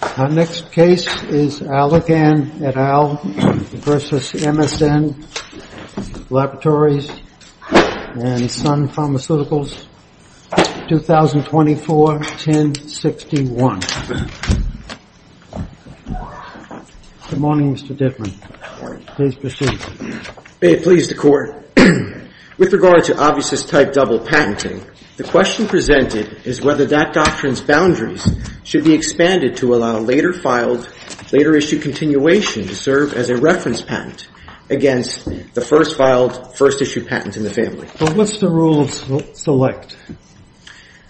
Our next case is Alergan, et al. v. MSN Laboratories and Sun Pharmaceuticals, 2024-1061. Good morning, Mr. Dittman. Please proceed. May it please the Court. With regard to obviousist-type double patenting, the question presented is whether that doctrine's boundaries should be expanded to allow later-issued continuation to serve as a reference patent against the first-issued patent in the family. What's the rule of select?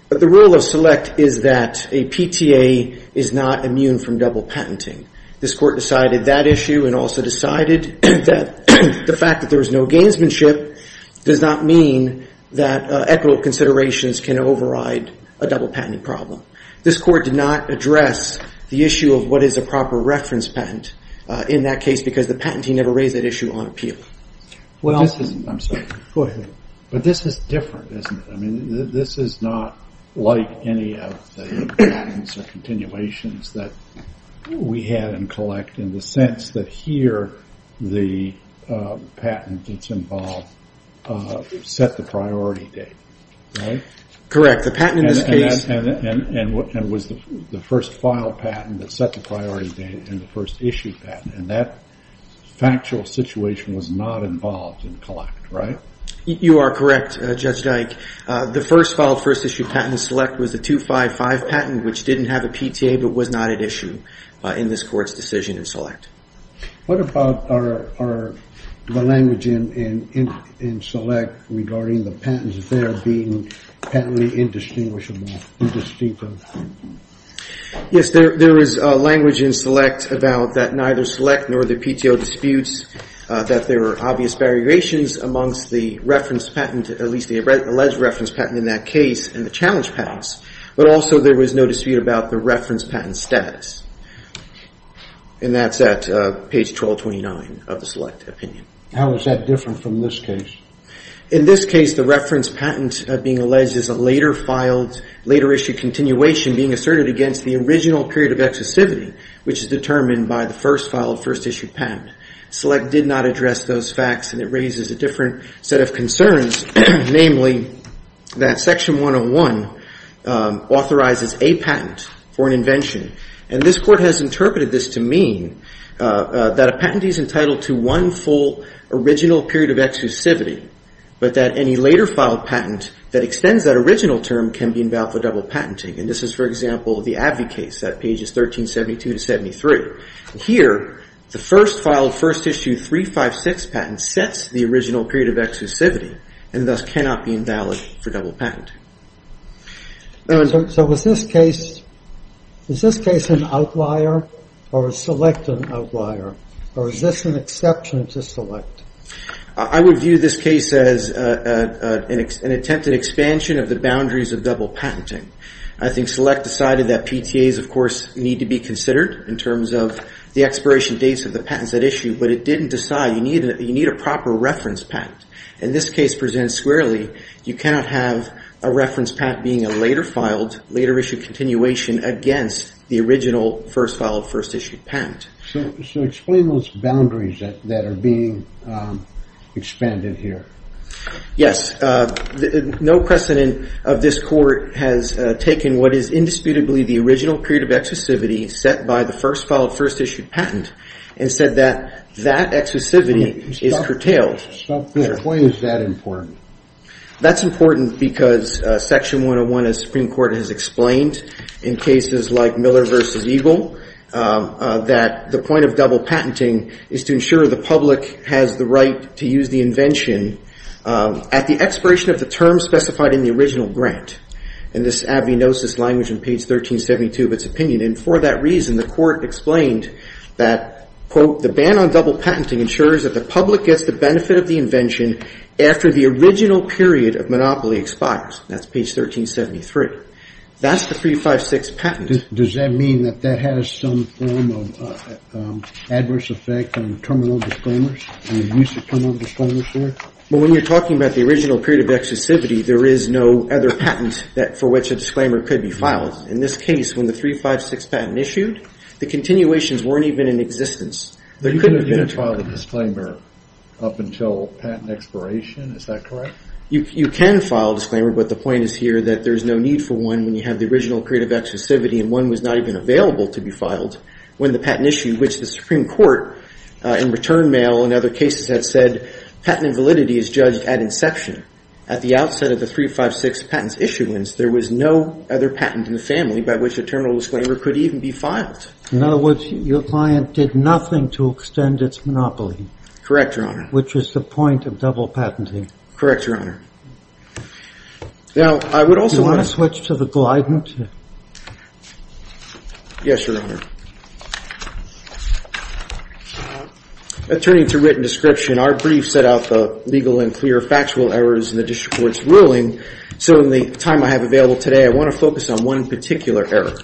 The rule of select is that a PTA is not immune from double patenting. This Court decided that issue and also decided that the fact that there is no gainsmanship does not mean that equitable considerations can override a double patenting problem. This Court did not address the issue of what is a proper reference patent in that case because the patentee never raised that issue on appeal. But this is different, isn't it? This is not like any of the patents or continuations that we have and collect in the sense that here the patent that's involved set the priority date. Correct. The patent in this case... ...and was the first filed patent that set the priority date and the first issued patent. And that factual situation was not involved in collect, right? You are correct, Judge Dyke. The first filed first-issued patent in select was the 255 patent, which didn't have a PTA but was not at issue in this Court's decision in select. What about the language in select regarding the patents there being patently indistinguishable? Yes, there was language in select about that neither select nor the PTO disputes that there were obvious variations amongst the reference patent, at least the alleged reference patent in that case and the challenge patents. But also there was no dispute about the reference patent status. And that's at page 1229 of the select opinion. How is that different from this case? In this case, the reference patent being alleged is a later filed, later issued continuation being asserted against the original period of excessivity, which is determined by the first filed first-issued patent. Select did not address those facts and it raises a different set of concerns, namely that Section 101 authorizes a patent for an invention. And this Court has interpreted this to mean that a patent is entitled to one full original period of excessivity, but that any later filed patent that extends that original term can be invalid for double patenting. And this is, for example, the Abbey case at pages 1372 to 73. Here, the first filed first-issued 356 patent sets the original period of excessivity and thus cannot be invalid for double patent. So is this case an outlier or is Select an outlier? Or is this an exception to Select? I would view this case as an attempted expansion of the boundaries of double patenting. I think Select decided that PTAs, of course, need to be considered in terms of the expiration dates of the patents at issue, but it didn't decide. You need a proper reference patent. In this case presented squarely, you cannot have a reference patent being a later filed, later issued continuation against the original first filed first-issued patent. So explain those boundaries that are being expanded here. Yes. No precedent of this Court has taken what is indisputably the original period of excessivity set by the first filed first-issued patent and said that that excessivity is curtailed. So why is that important? That's important because Section 101 of the Supreme Court has explained in cases like Miller v. Eagle that the point of double patenting is to ensure the public has the right to use the invention at the expiration of the term specified in the original grant. In this ad venosus language on page 1372 of its opinion, and for that reason, the Court explained that, quote, the ban on double patenting ensures that the public gets the benefit of the invention after the original period of monopoly expires. That's page 1373. That's the 356 patent. Does that mean that that has some form of adverse effect on terminal disclaimers and use of terminal disclaimers here? Well, when you're talking about the original period of excessivity, there is no other patent for which a disclaimer could be filed. In this case, when the 356 patent issued, the continuations weren't even in existence. You couldn't have filed a disclaimer up until patent expiration. Is that correct? You can file a disclaimer, but the point is here that there's no need for one when you have the original period of excessivity and one was not even available to be filed when the patent issued, which the Supreme Court in return mail and other cases had said patent invalidity is judged at inception. At the outset of the 356 patent's issuance, there was no other patent in the family by which a terminal disclaimer could even be filed. In other words, your client did nothing to extend its monopoly. Correct, Your Honor. Which was the point of double patenting. Correct, Your Honor. Now, I would also want to... Do you want to switch to the Glidant? Yes, Your Honor. Turning to written description, our brief set out the legal and clear factual errors in the district court's ruling. So in the time I have available today, I want to focus on one particular error.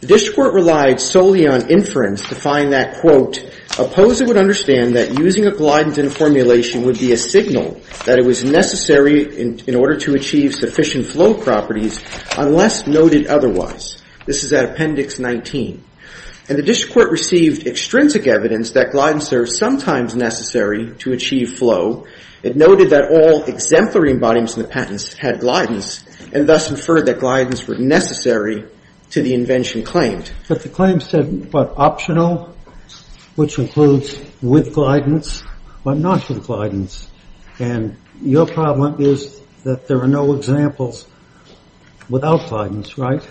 The district court relied solely on inference to find that, quote, that using a Glidant in a formulation would be a signal that it was necessary in order to achieve sufficient flow properties unless noted otherwise. This is at Appendix 19. And the district court received extrinsic evidence that Glidants are sometimes necessary to achieve flow. It noted that all exemplary embodiments in the patents had Glidants and thus inferred that Glidants were necessary to the invention claimed. But the claim said, what, optional, which includes with Glidants, but not with Glidants. And your problem is that there are no examples without Glidants, right?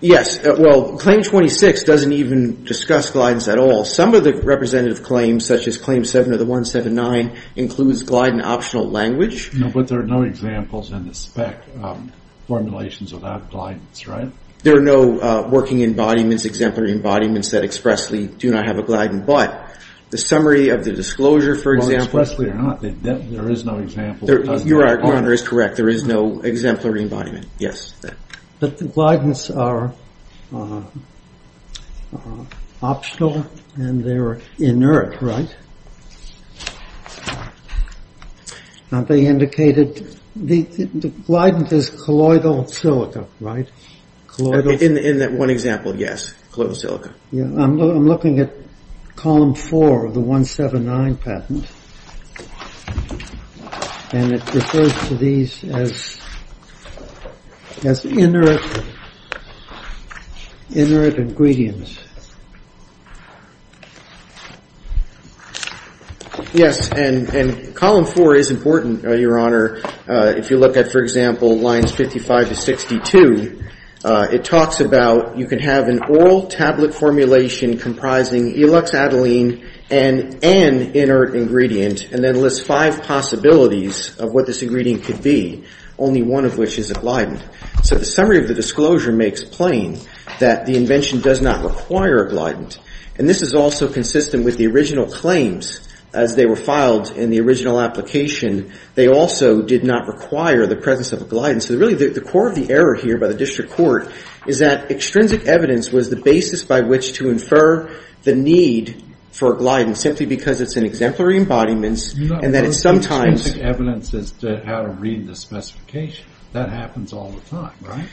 Yes. Well, Claim 26 doesn't even discuss Glidants at all. Some of the representative claims, such as Claim 7 of the 179, includes Glidant optional language. No, but there are no examples in the spec formulations without Glidants, right? There are no working embodiments, exemplary embodiments that expressly do not have a Glidant. But the summary of the disclosure, for example. Well, expressly or not, there is no example. Your honor is correct. There is no exemplary embodiment. Yes. But the Glidants are optional and they're inert, right? Now, they indicated the Glidant is colloidal silica, right? In that one example, yes, colloidal silica. I'm looking at Column 4 of the 179 patent. And it refers to these as inert ingredients. Yes, and Column 4 is important, your honor. If you look at, for example, lines 55 to 62, it talks about you can have an oral tablet formulation comprising Eluxadiline and an inert ingredient, and then lists five possibilities of what this ingredient could be, only one of which is a Glidant. So the summary of the disclosure may explain that the invention does not require a Glidant. And this is also consistent with the original claims. As they were filed in the original application, they also did not require the presence of a Glidant. So really the core of the error here by the district court is that extrinsic evidence was the basis by which to infer the need for a Glidant, simply because it's an exemplary embodiment and that it sometimes. Extrinsic evidence is how to read the specification. That happens all the time, right?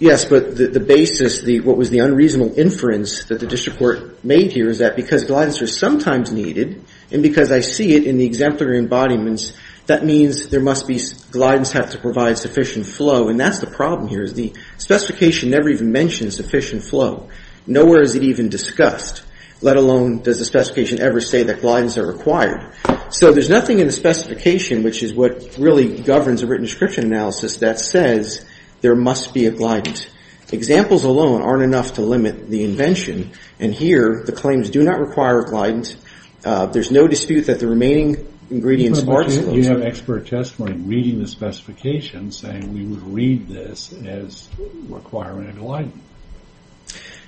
Yes, but the basis, what was the unreasonable inference that the district court made here is that because Glidants are sometimes needed, and because I see it in the exemplary embodiments, that means there must be, Glidants have to provide sufficient flow. And that's the problem here is the specification never even mentions sufficient flow. Nowhere is it even discussed, let alone does the specification ever say that Glidants are required. So there's nothing in the specification, which is what really governs a written description analysis, that says there must be a Glidant. Examples alone aren't enough to limit the invention. And here the claims do not require a Glidant. There's no dispute that the remaining ingredients are. You have expert testimony reading the specification saying we would read this as requiring a Glidant.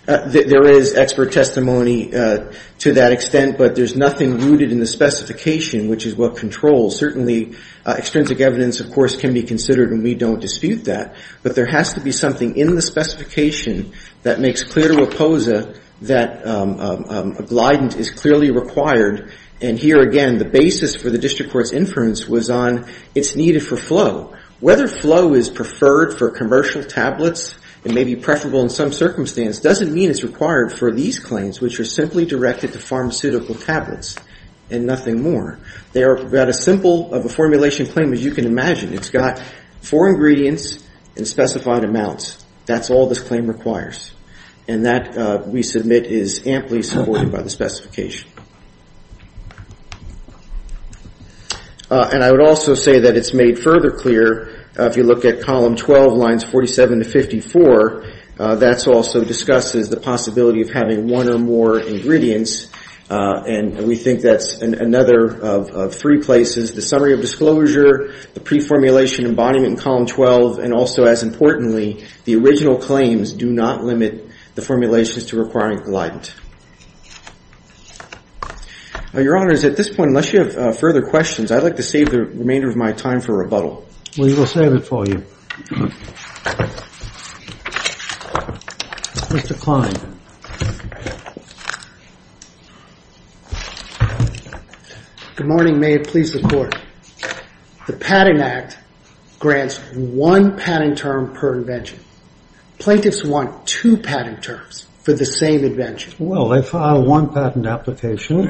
There is expert testimony to that extent, but there's nothing rooted in the specification, which is what controls. Certainly, extrinsic evidence, of course, can be considered, and we don't dispute that. But there has to be something in the specification that makes clear to Reposa that a Glidant is clearly required. And here, again, the basis for the district court's inference was on it's needed for flow. Whether flow is preferred for commercial tablets and may be preferable in some circumstance doesn't mean it's required for these claims, which are simply directed to pharmaceutical tablets and nothing more. They are about as simple of a formulation claim as you can imagine. It's got four ingredients and specified amounts. That's all this claim requires. And that, we submit, is amply supported by the specification. And I would also say that it's made further clear, if you look at column 12, lines 47 to 54, that also discusses the possibility of having one or more ingredients, and we think that's another of three places, the summary of disclosure, the pre-formulation embodiment in column 12, and also, as importantly, the original claims do not limit the formulations to requiring Glidant. Your Honor, at this point, unless you have further questions, I'd like to save the remainder of my time for rebuttal. We will save it for you. Mr. Klein. Good morning. May it please the Court. The Patent Act grants one patent term per invention. Plaintiffs want two patent terms for the same invention. Well, they filed one patent application.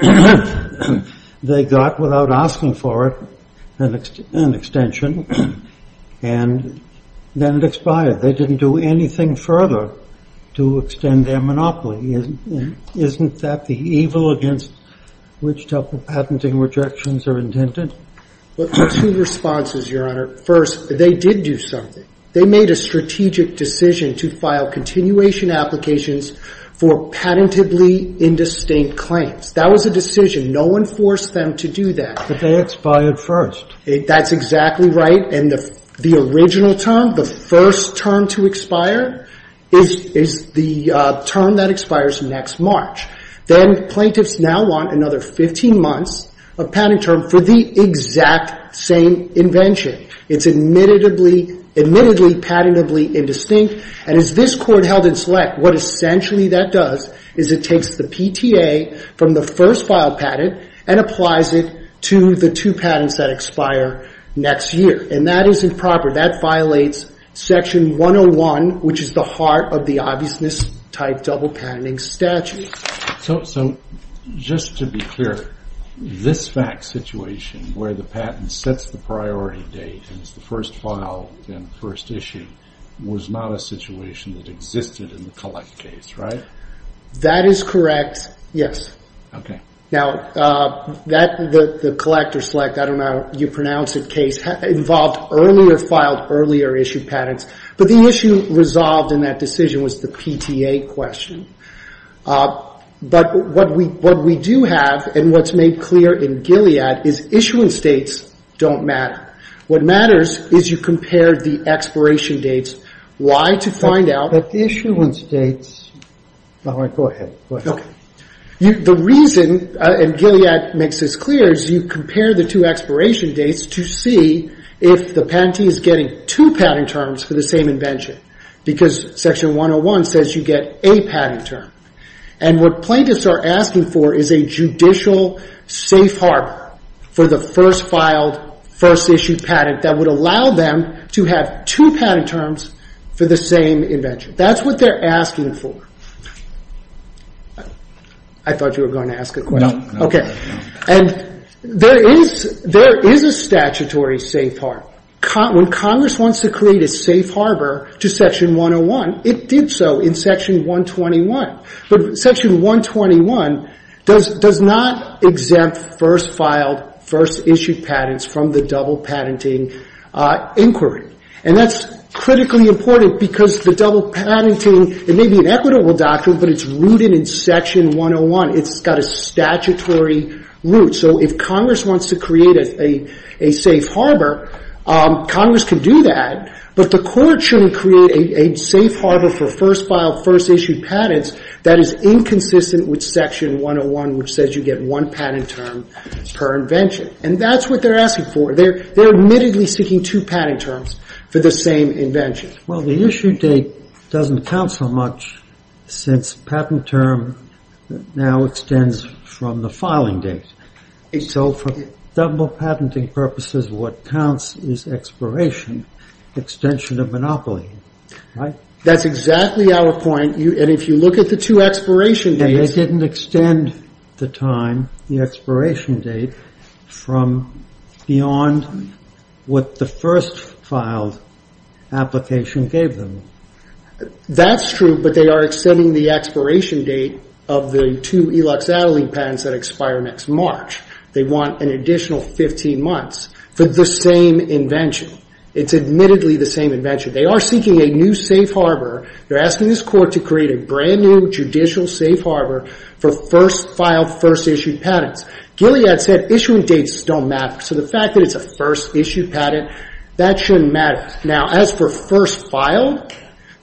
They got, without asking for it, an extension, and then it expired. They didn't do anything further to extend their monopoly. Isn't that the evil against which type of patenting rejections are intended? Well, two responses, Your Honor. First, they did do something. They made a strategic decision to file continuation applications for patently indistinct claims. That was a decision. No one forced them to do that. But they expired first. That's exactly right. And the original term, the first term to expire, is the term that expires next March. Then plaintiffs now want another 15 months of patent term for the exact same invention. It's admittedly patentably indistinct. And as this Court held in select, what essentially that does is it takes the PTA from the first filed patent and applies it to the two patents that expire next year. And that isn't proper. That violates Section 101, which is the heart of the obviousness-type double patenting statute. So just to be clear, this fact situation where the patent sets the priority date and it's the first file and the first issue was not a situation that existed in the Collect case, right? That is correct, yes. Now, the Collect or Select, I don't know how you pronounce it, case involved earlier filed, earlier issued patents. But the issue resolved in that decision was the PTA question. But what we do have and what's made clear in Gilead is issuance dates don't matter. What matters is you compare the expiration dates. Why? To find out the issuance dates. Go ahead. The reason, and Gilead makes this clear, is you compare the two expiration dates to see if the patentee is getting two patent terms for the same invention. Because Section 101 says you get a patent term. And what plaintiffs are asking for is a judicial safe harbor for the first filed, first issued patent that would allow them to have two patent terms for the same invention. That's what they're asking for. No. Okay. And there is a statutory safe harbor. When Congress wants to create a safe harbor to Section 101, it did so in Section 121. But Section 121 does not exempt first filed, first issued patents from the double patenting inquiry. And that's critically important because the double patenting, it may be an equitable doctrine, but it's rooted in Section 101. It's got a statutory root. So if Congress wants to create a safe harbor, Congress can do that. But the court shouldn't create a safe harbor for first filed, first issued patents that is inconsistent with Section 101, which says you get one patent term per invention. And that's what they're asking for. They're admittedly seeking two patent terms for the same invention. Well, the issue date doesn't count so much since patent term now extends from the filing date. So for double patenting purposes, what counts is expiration, extension of monopoly, right? That's exactly our point. And if you look at the two expiration dates. They didn't extend the time, the expiration date, from beyond what the first filed application gave them. That's true, but they are extending the expiration date of the two Elix Adelie patents that expire next March. They want an additional 15 months for the same invention. It's admittedly the same invention. They are seeking a new safe harbor. They're asking this court to create a brand new judicial safe harbor for first filed, first issued patents. Gilead said issuing dates don't matter. So the fact that it's a first issued patent, that shouldn't matter. Now, as for first filed,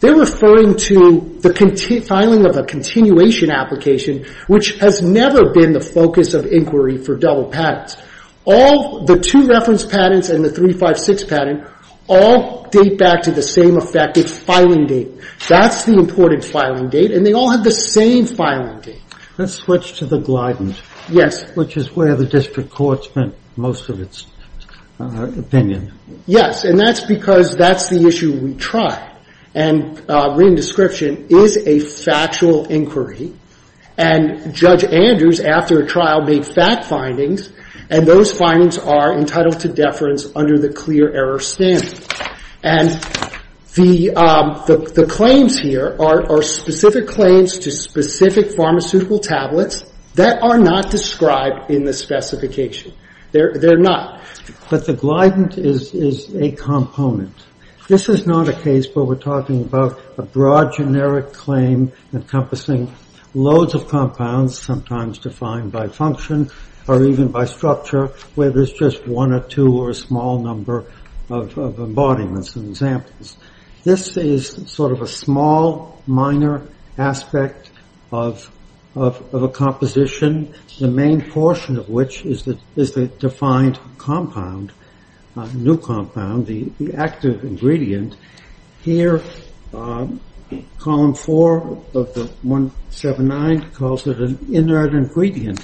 they're referring to the filing of a continuation application, which has never been the focus of inquiry for double patents. The two reference patents and the 356 patent all date back to the same effect. It's filing date. That's the important filing date. And they all have the same filing date. Let's switch to the Glidant. Yes. Which is where the district court spent most of its opinion. Yes. And that's because that's the issue we tried. And written description is a factual inquiry. And Judge Andrews, after a trial, made fact findings. And those findings are entitled to deference under the clear error standard. And the claims here are specific claims to specific pharmaceutical tablets that are not described in the specification. They're not. But the Glidant is a component. This is not a case where we're talking about a broad generic claim encompassing loads of compounds, sometimes defined by function or even by structure, where there's just one or two or a small number of embodiments and examples. This is sort of a small, minor aspect of a composition, the main portion of which is the defined compound, new compound. The active ingredient here, column four of the 179, calls it an inert ingredient.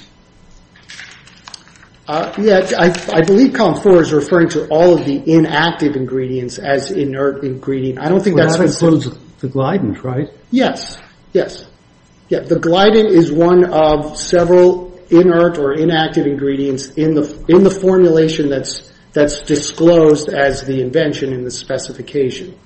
Yes. I believe column four is referring to all of the inactive ingredients as inert ingredient. I don't think that's specific. Well, that includes the Glidant, right? Yes. Yes. The Glidant is one of several inert or inactive ingredients in the formulation that's disclosed as the invention in the specification.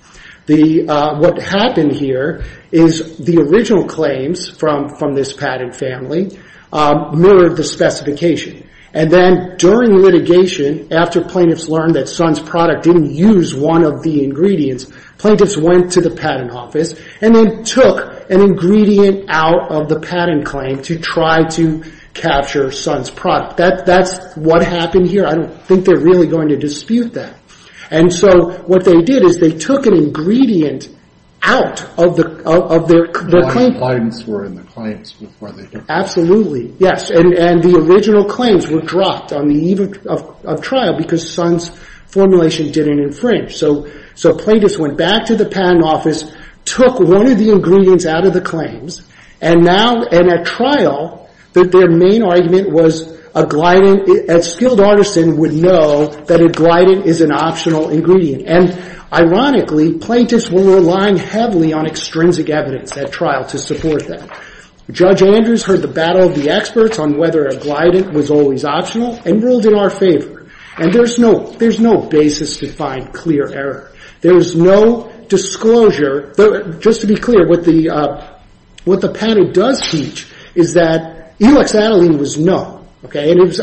What happened here is the original claims from this patent family mirrored the specification. And then during litigation, after plaintiffs learned that Sun's product didn't use one of the ingredients, plaintiffs went to the patent office and then took an ingredient out of the patent claim to try to capture Sun's product. That's what happened here. I don't think they're really going to dispute that. And so what they did is they took an ingredient out of their claim. Glidants were in the claims before they came out. Absolutely. Yes. And the original claims were dropped on the eve of trial because Sun's formulation didn't infringe. So plaintiffs went back to the patent office, took one of the ingredients out of the claims, and now, and at trial, that their main argument was a Glidant. A skilled artisan would know that a Glidant is an optional ingredient. And ironically, plaintiffs were relying heavily on extrinsic evidence at trial to support that. Judge Andrews heard the battle of the experts on whether a Glidant was always optional and ruled in our favor. And there's no basis to find clear error. There's no disclosure. Just to be clear, what the patent does teach is that E-luxadiline was no. And it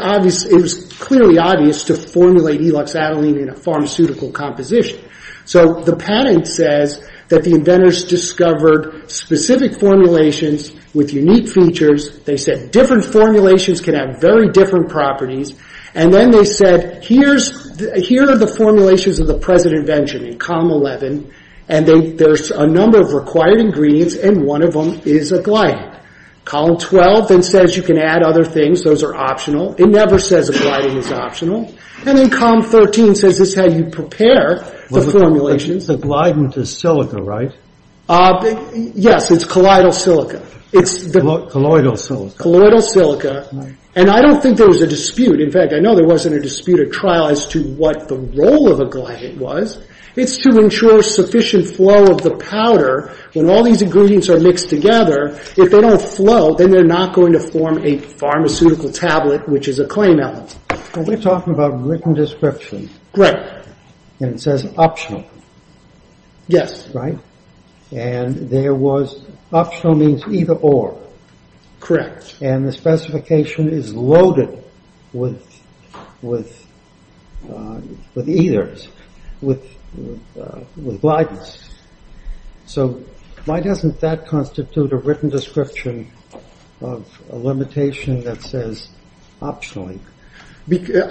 was clearly obvious to formulate E-luxadiline in a pharmaceutical composition. So the patent says that the inventors discovered specific formulations with unique features. They said different formulations can have very different properties. And then they said, here's, here are the formulations of the President Benjamin, COM 11. And there's a number of required ingredients, and one of them is a Glidant. COLUMN 12 then says you can add other things. Those are optional. It never says a Glidant is optional. And then COM 13 says this is how you prepare the formulations. But the Glidant is silica, right? Yes. It's colloidal silica. Colloidal silica. Colloidal silica. And I don't think there was a dispute. In fact, I know there wasn't a dispute at trial as to what the role of a Glidant was. It's to ensure sufficient flow of the powder. When all these ingredients are mixed together, if they don't flow, then they're not going to form a pharmaceutical tablet, which is a claim element. We're talking about written description. Right. And it says optional. Yes. Right. And there was optional means either or. Correct. And the specification is loaded with eithers, with Glidants. So why doesn't that constitute a written description of a limitation that says optionally?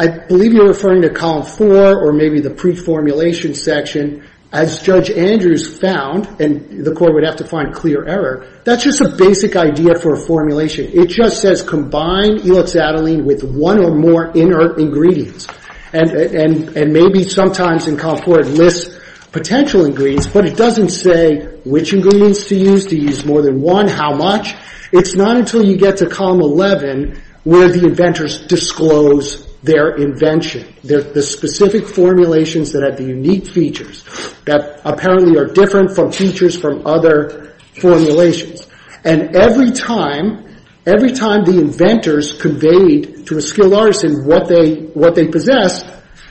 I believe you're referring to Column 4 or maybe the pre-formulation section. As Judge Andrews found, and the Court would have to find clear error, that's just a basic idea for a formulation. It just says combine elixadiline with one or more inert ingredients. And maybe sometimes in Column 4 it lists potential ingredients, but it doesn't say which ingredients to use, to use more than one, how much. It's not until you get to Column 11 where the inventors disclose their invention, the specific formulations that have the unique features, that apparently are different from features from other formulations. And every time, every time the inventors conveyed to a skilled artisan what they possessed,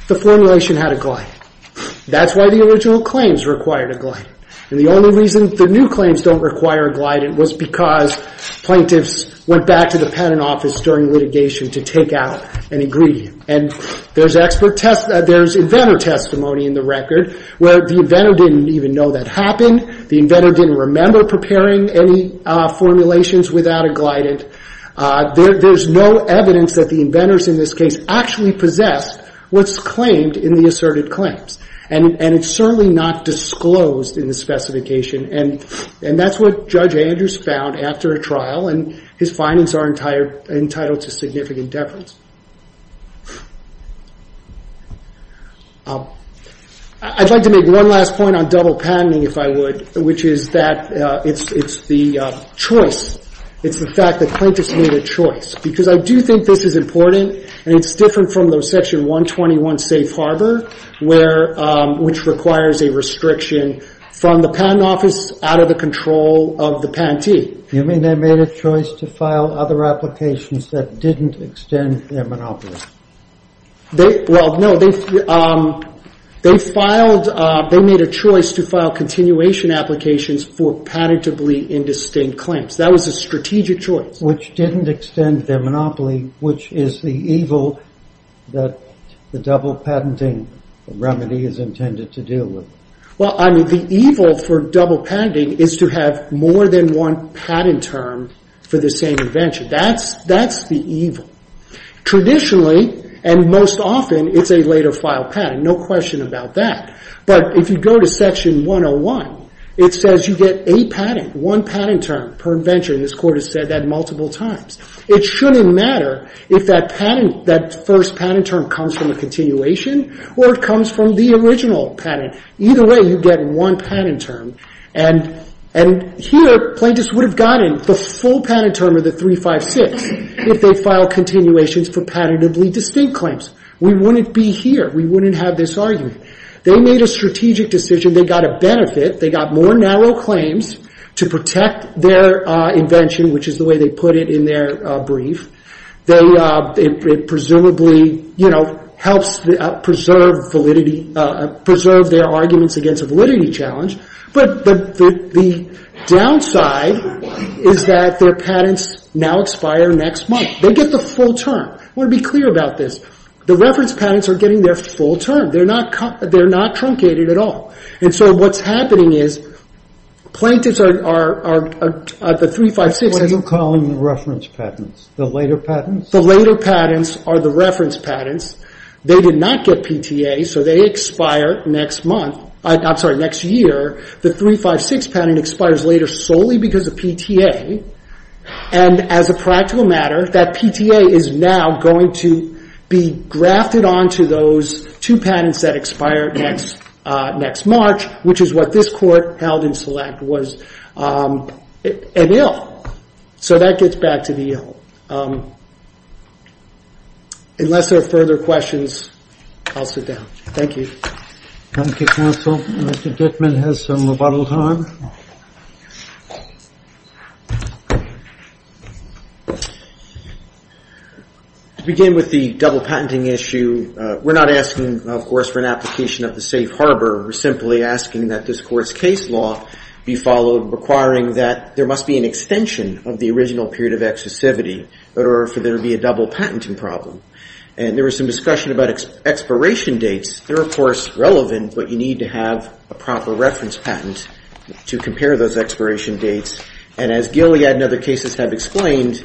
the formulation had a Glidant. That's why the original claims required a Glidant. And the only reason the new claims don't require a Glidant was because plaintiffs went back to the patent office during litigation to take out an ingredient. And there's inventor testimony in the record where the inventor didn't even know that happened. The inventor didn't remember preparing any formulations without a Glidant. There's no evidence that the inventors in this case actually possessed what's claimed in the asserted claims. And it's certainly not disclosed in the specification. And that's what Judge Andrews found after a trial, and his findings are entitled to significant deference. I'd like to make one last point on double patenting, if I would, which is that it's the choice. It's the fact that plaintiffs made a choice. Because I do think this is important, and it's different from the Section 121 Safe Harbor, which requires a restriction from the patent office out of the control of the patentee. You mean they made a choice to file other applications that didn't extend their monopoly? Well, no. They made a choice to file continuation applications for patentably indistinct claims. That was a strategic choice. Which didn't extend their monopoly, which is the evil that the double patenting remedy is intended to deal with. Well, I mean, the evil for double patenting is to have more than one patent term for the same invention. That's the evil. Traditionally, and most often, it's a later file patent. No question about that. But if you go to Section 101, it says you get a patent, one patent term per invention. This Court has said that multiple times. It shouldn't matter if that patent, that first patent term comes from a continuation or it comes from the original patent. Either way, you get one patent term. And here, plaintiffs would have gotten the full patent term of the 356 if they filed continuations for patentably distinct claims. We wouldn't be here. We wouldn't have this argument. They made a strategic decision. They got a benefit. They got more narrow claims to protect their invention, which is the way they put it in their brief. It presumably helps preserve validity, preserve their arguments against a validity challenge. But the downside is that their patents now expire next month. They get the full term. I want to be clear about this. The reference patents are getting their full term. They're not truncated at all. And so what's happening is plaintiffs are at the 356. What are you calling the reference patents? The later patents? The later patents are the reference patents. They did not get PTA, so they expire next month. I'm sorry, next year. The 356 patent expires later solely because of PTA. And as a practical matter, that PTA is now going to be grafted onto those two patents that expire next March, which is what this Court held in select was an ill. So that gets back to the ill. Unless there are further questions, I'll sit down. Thank you. Thank you, counsel. Mr. Dittman has some rebuttal time. To begin with the double patenting issue, we're not asking, of course, for an application of the safe harbor. We're simply asking that this Court's case law be followed requiring that there must be an extension of the original period of exclusivity in order for there to be a double patenting problem. And there was some discussion about expiration dates. They're, of course, relevant, but you need to have a proper reference patent to compare those expiration dates. And as Gilead and other cases have explained,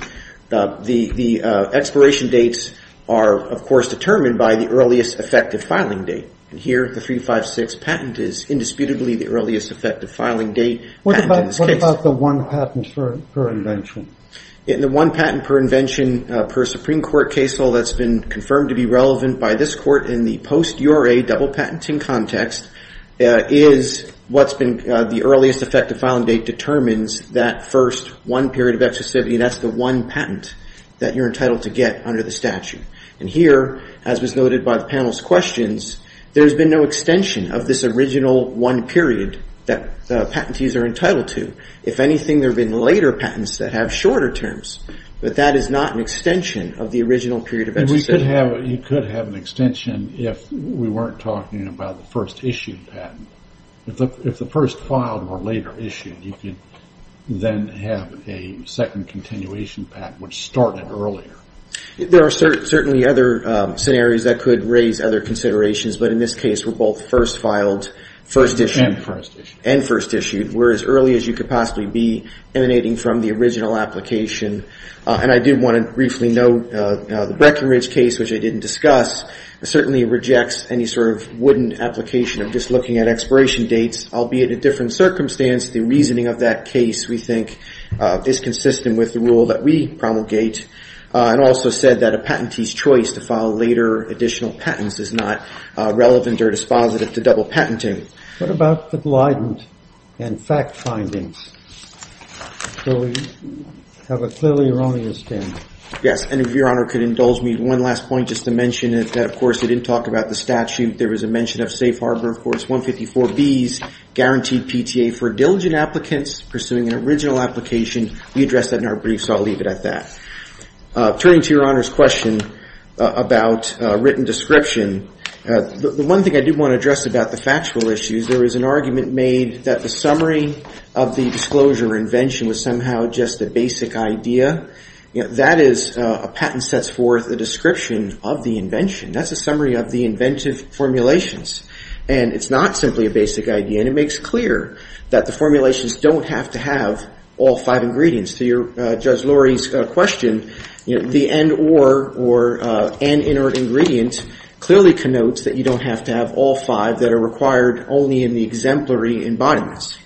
the expiration dates are, of course, determined by the earliest effective filing date. And here, the 356 patent is indisputably the earliest effective filing date. What about the one patent per invention? The one patent per invention per Supreme Court case law that's been confirmed to be relevant by this Court in the post-URA double patenting context is what's been the earliest effective filing date determines that first one period of exclusivity, and that's the one patent that you're entitled to get under the statute. And here, as was noted by the panel's questions, there's been no extension of this original one period that the patentees are entitled to. If anything, there have been later patents that have shorter terms, but that is not an extension of the original period of exclusivity. You could have an extension if we weren't talking about the first issued patent. If the first filed were later issued, you could then have a second continuation patent, which started earlier. There are certainly other scenarios that could raise other considerations, but in this case, we're both first filed, first issued, and first issued. We're as early as you could possibly be emanating from the original application. And I do want to briefly note the Breckenridge case, which I didn't discuss, certainly rejects any sort of wooden application of just looking at expiration dates, albeit a different circumstance. The reasoning of that case, we think, is consistent with the rule that we promulgate and also said that a patentee's choice to file later additional patents is not relevant or dispositive to double patenting. What about the Glidant and FACT findings? So we have a clearly erroneous standard. Yes, and if Your Honor could indulge me one last point, just to mention that, of course, we didn't talk about the statute. There was a mention of Safe Harbor, of course, 154B's guaranteed PTA for diligent applicants pursuing an original application. We addressed that in our brief, so I'll leave it at that. Turning to Your Honor's question about written description, the one thing I do want to address about the factual issues, there was an argument made that the summary of the disclosure or invention was somehow just a basic idea. That is, a patent sets forth a description of the invention. That's a summary of the inventive formulations, and it's not simply a basic idea, and it makes clear that the formulations don't have to have all five ingredients. To Judge Lurie's question, the end or, or an inert ingredient, clearly connotes that you don't have to have all five that are required only in the exemplary embodiments.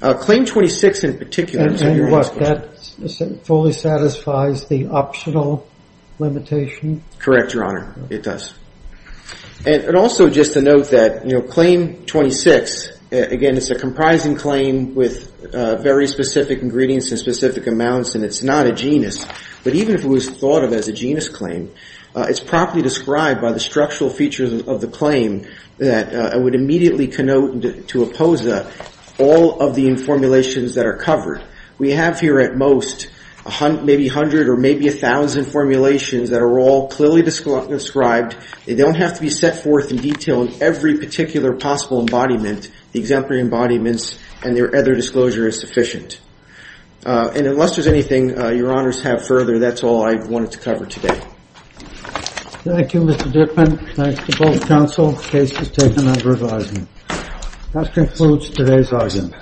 Claim 26 in particular. And what, that fully satisfies the optional limitation? Correct, Your Honor, it does. And also just to note that, you know, Claim 26, again, it's a comprising claim with very specific ingredients and specific amounts, and it's not a genus. But even if it was thought of as a genus claim, it's properly described by the structural features of the claim that I would immediately connote to oppose all of the formulations that are covered. We have here at most maybe 100 or maybe 1,000 formulations that are all clearly described. They don't have to be set forth in detail in every particular possible embodiment. The exemplary embodiments and their other disclosure is sufficient. And unless there's anything Your Honors have further, that's all I wanted to cover today. Thank you, Mr. Dippin. Thanks to both counsel. The case is taken under advisement. That concludes today's item.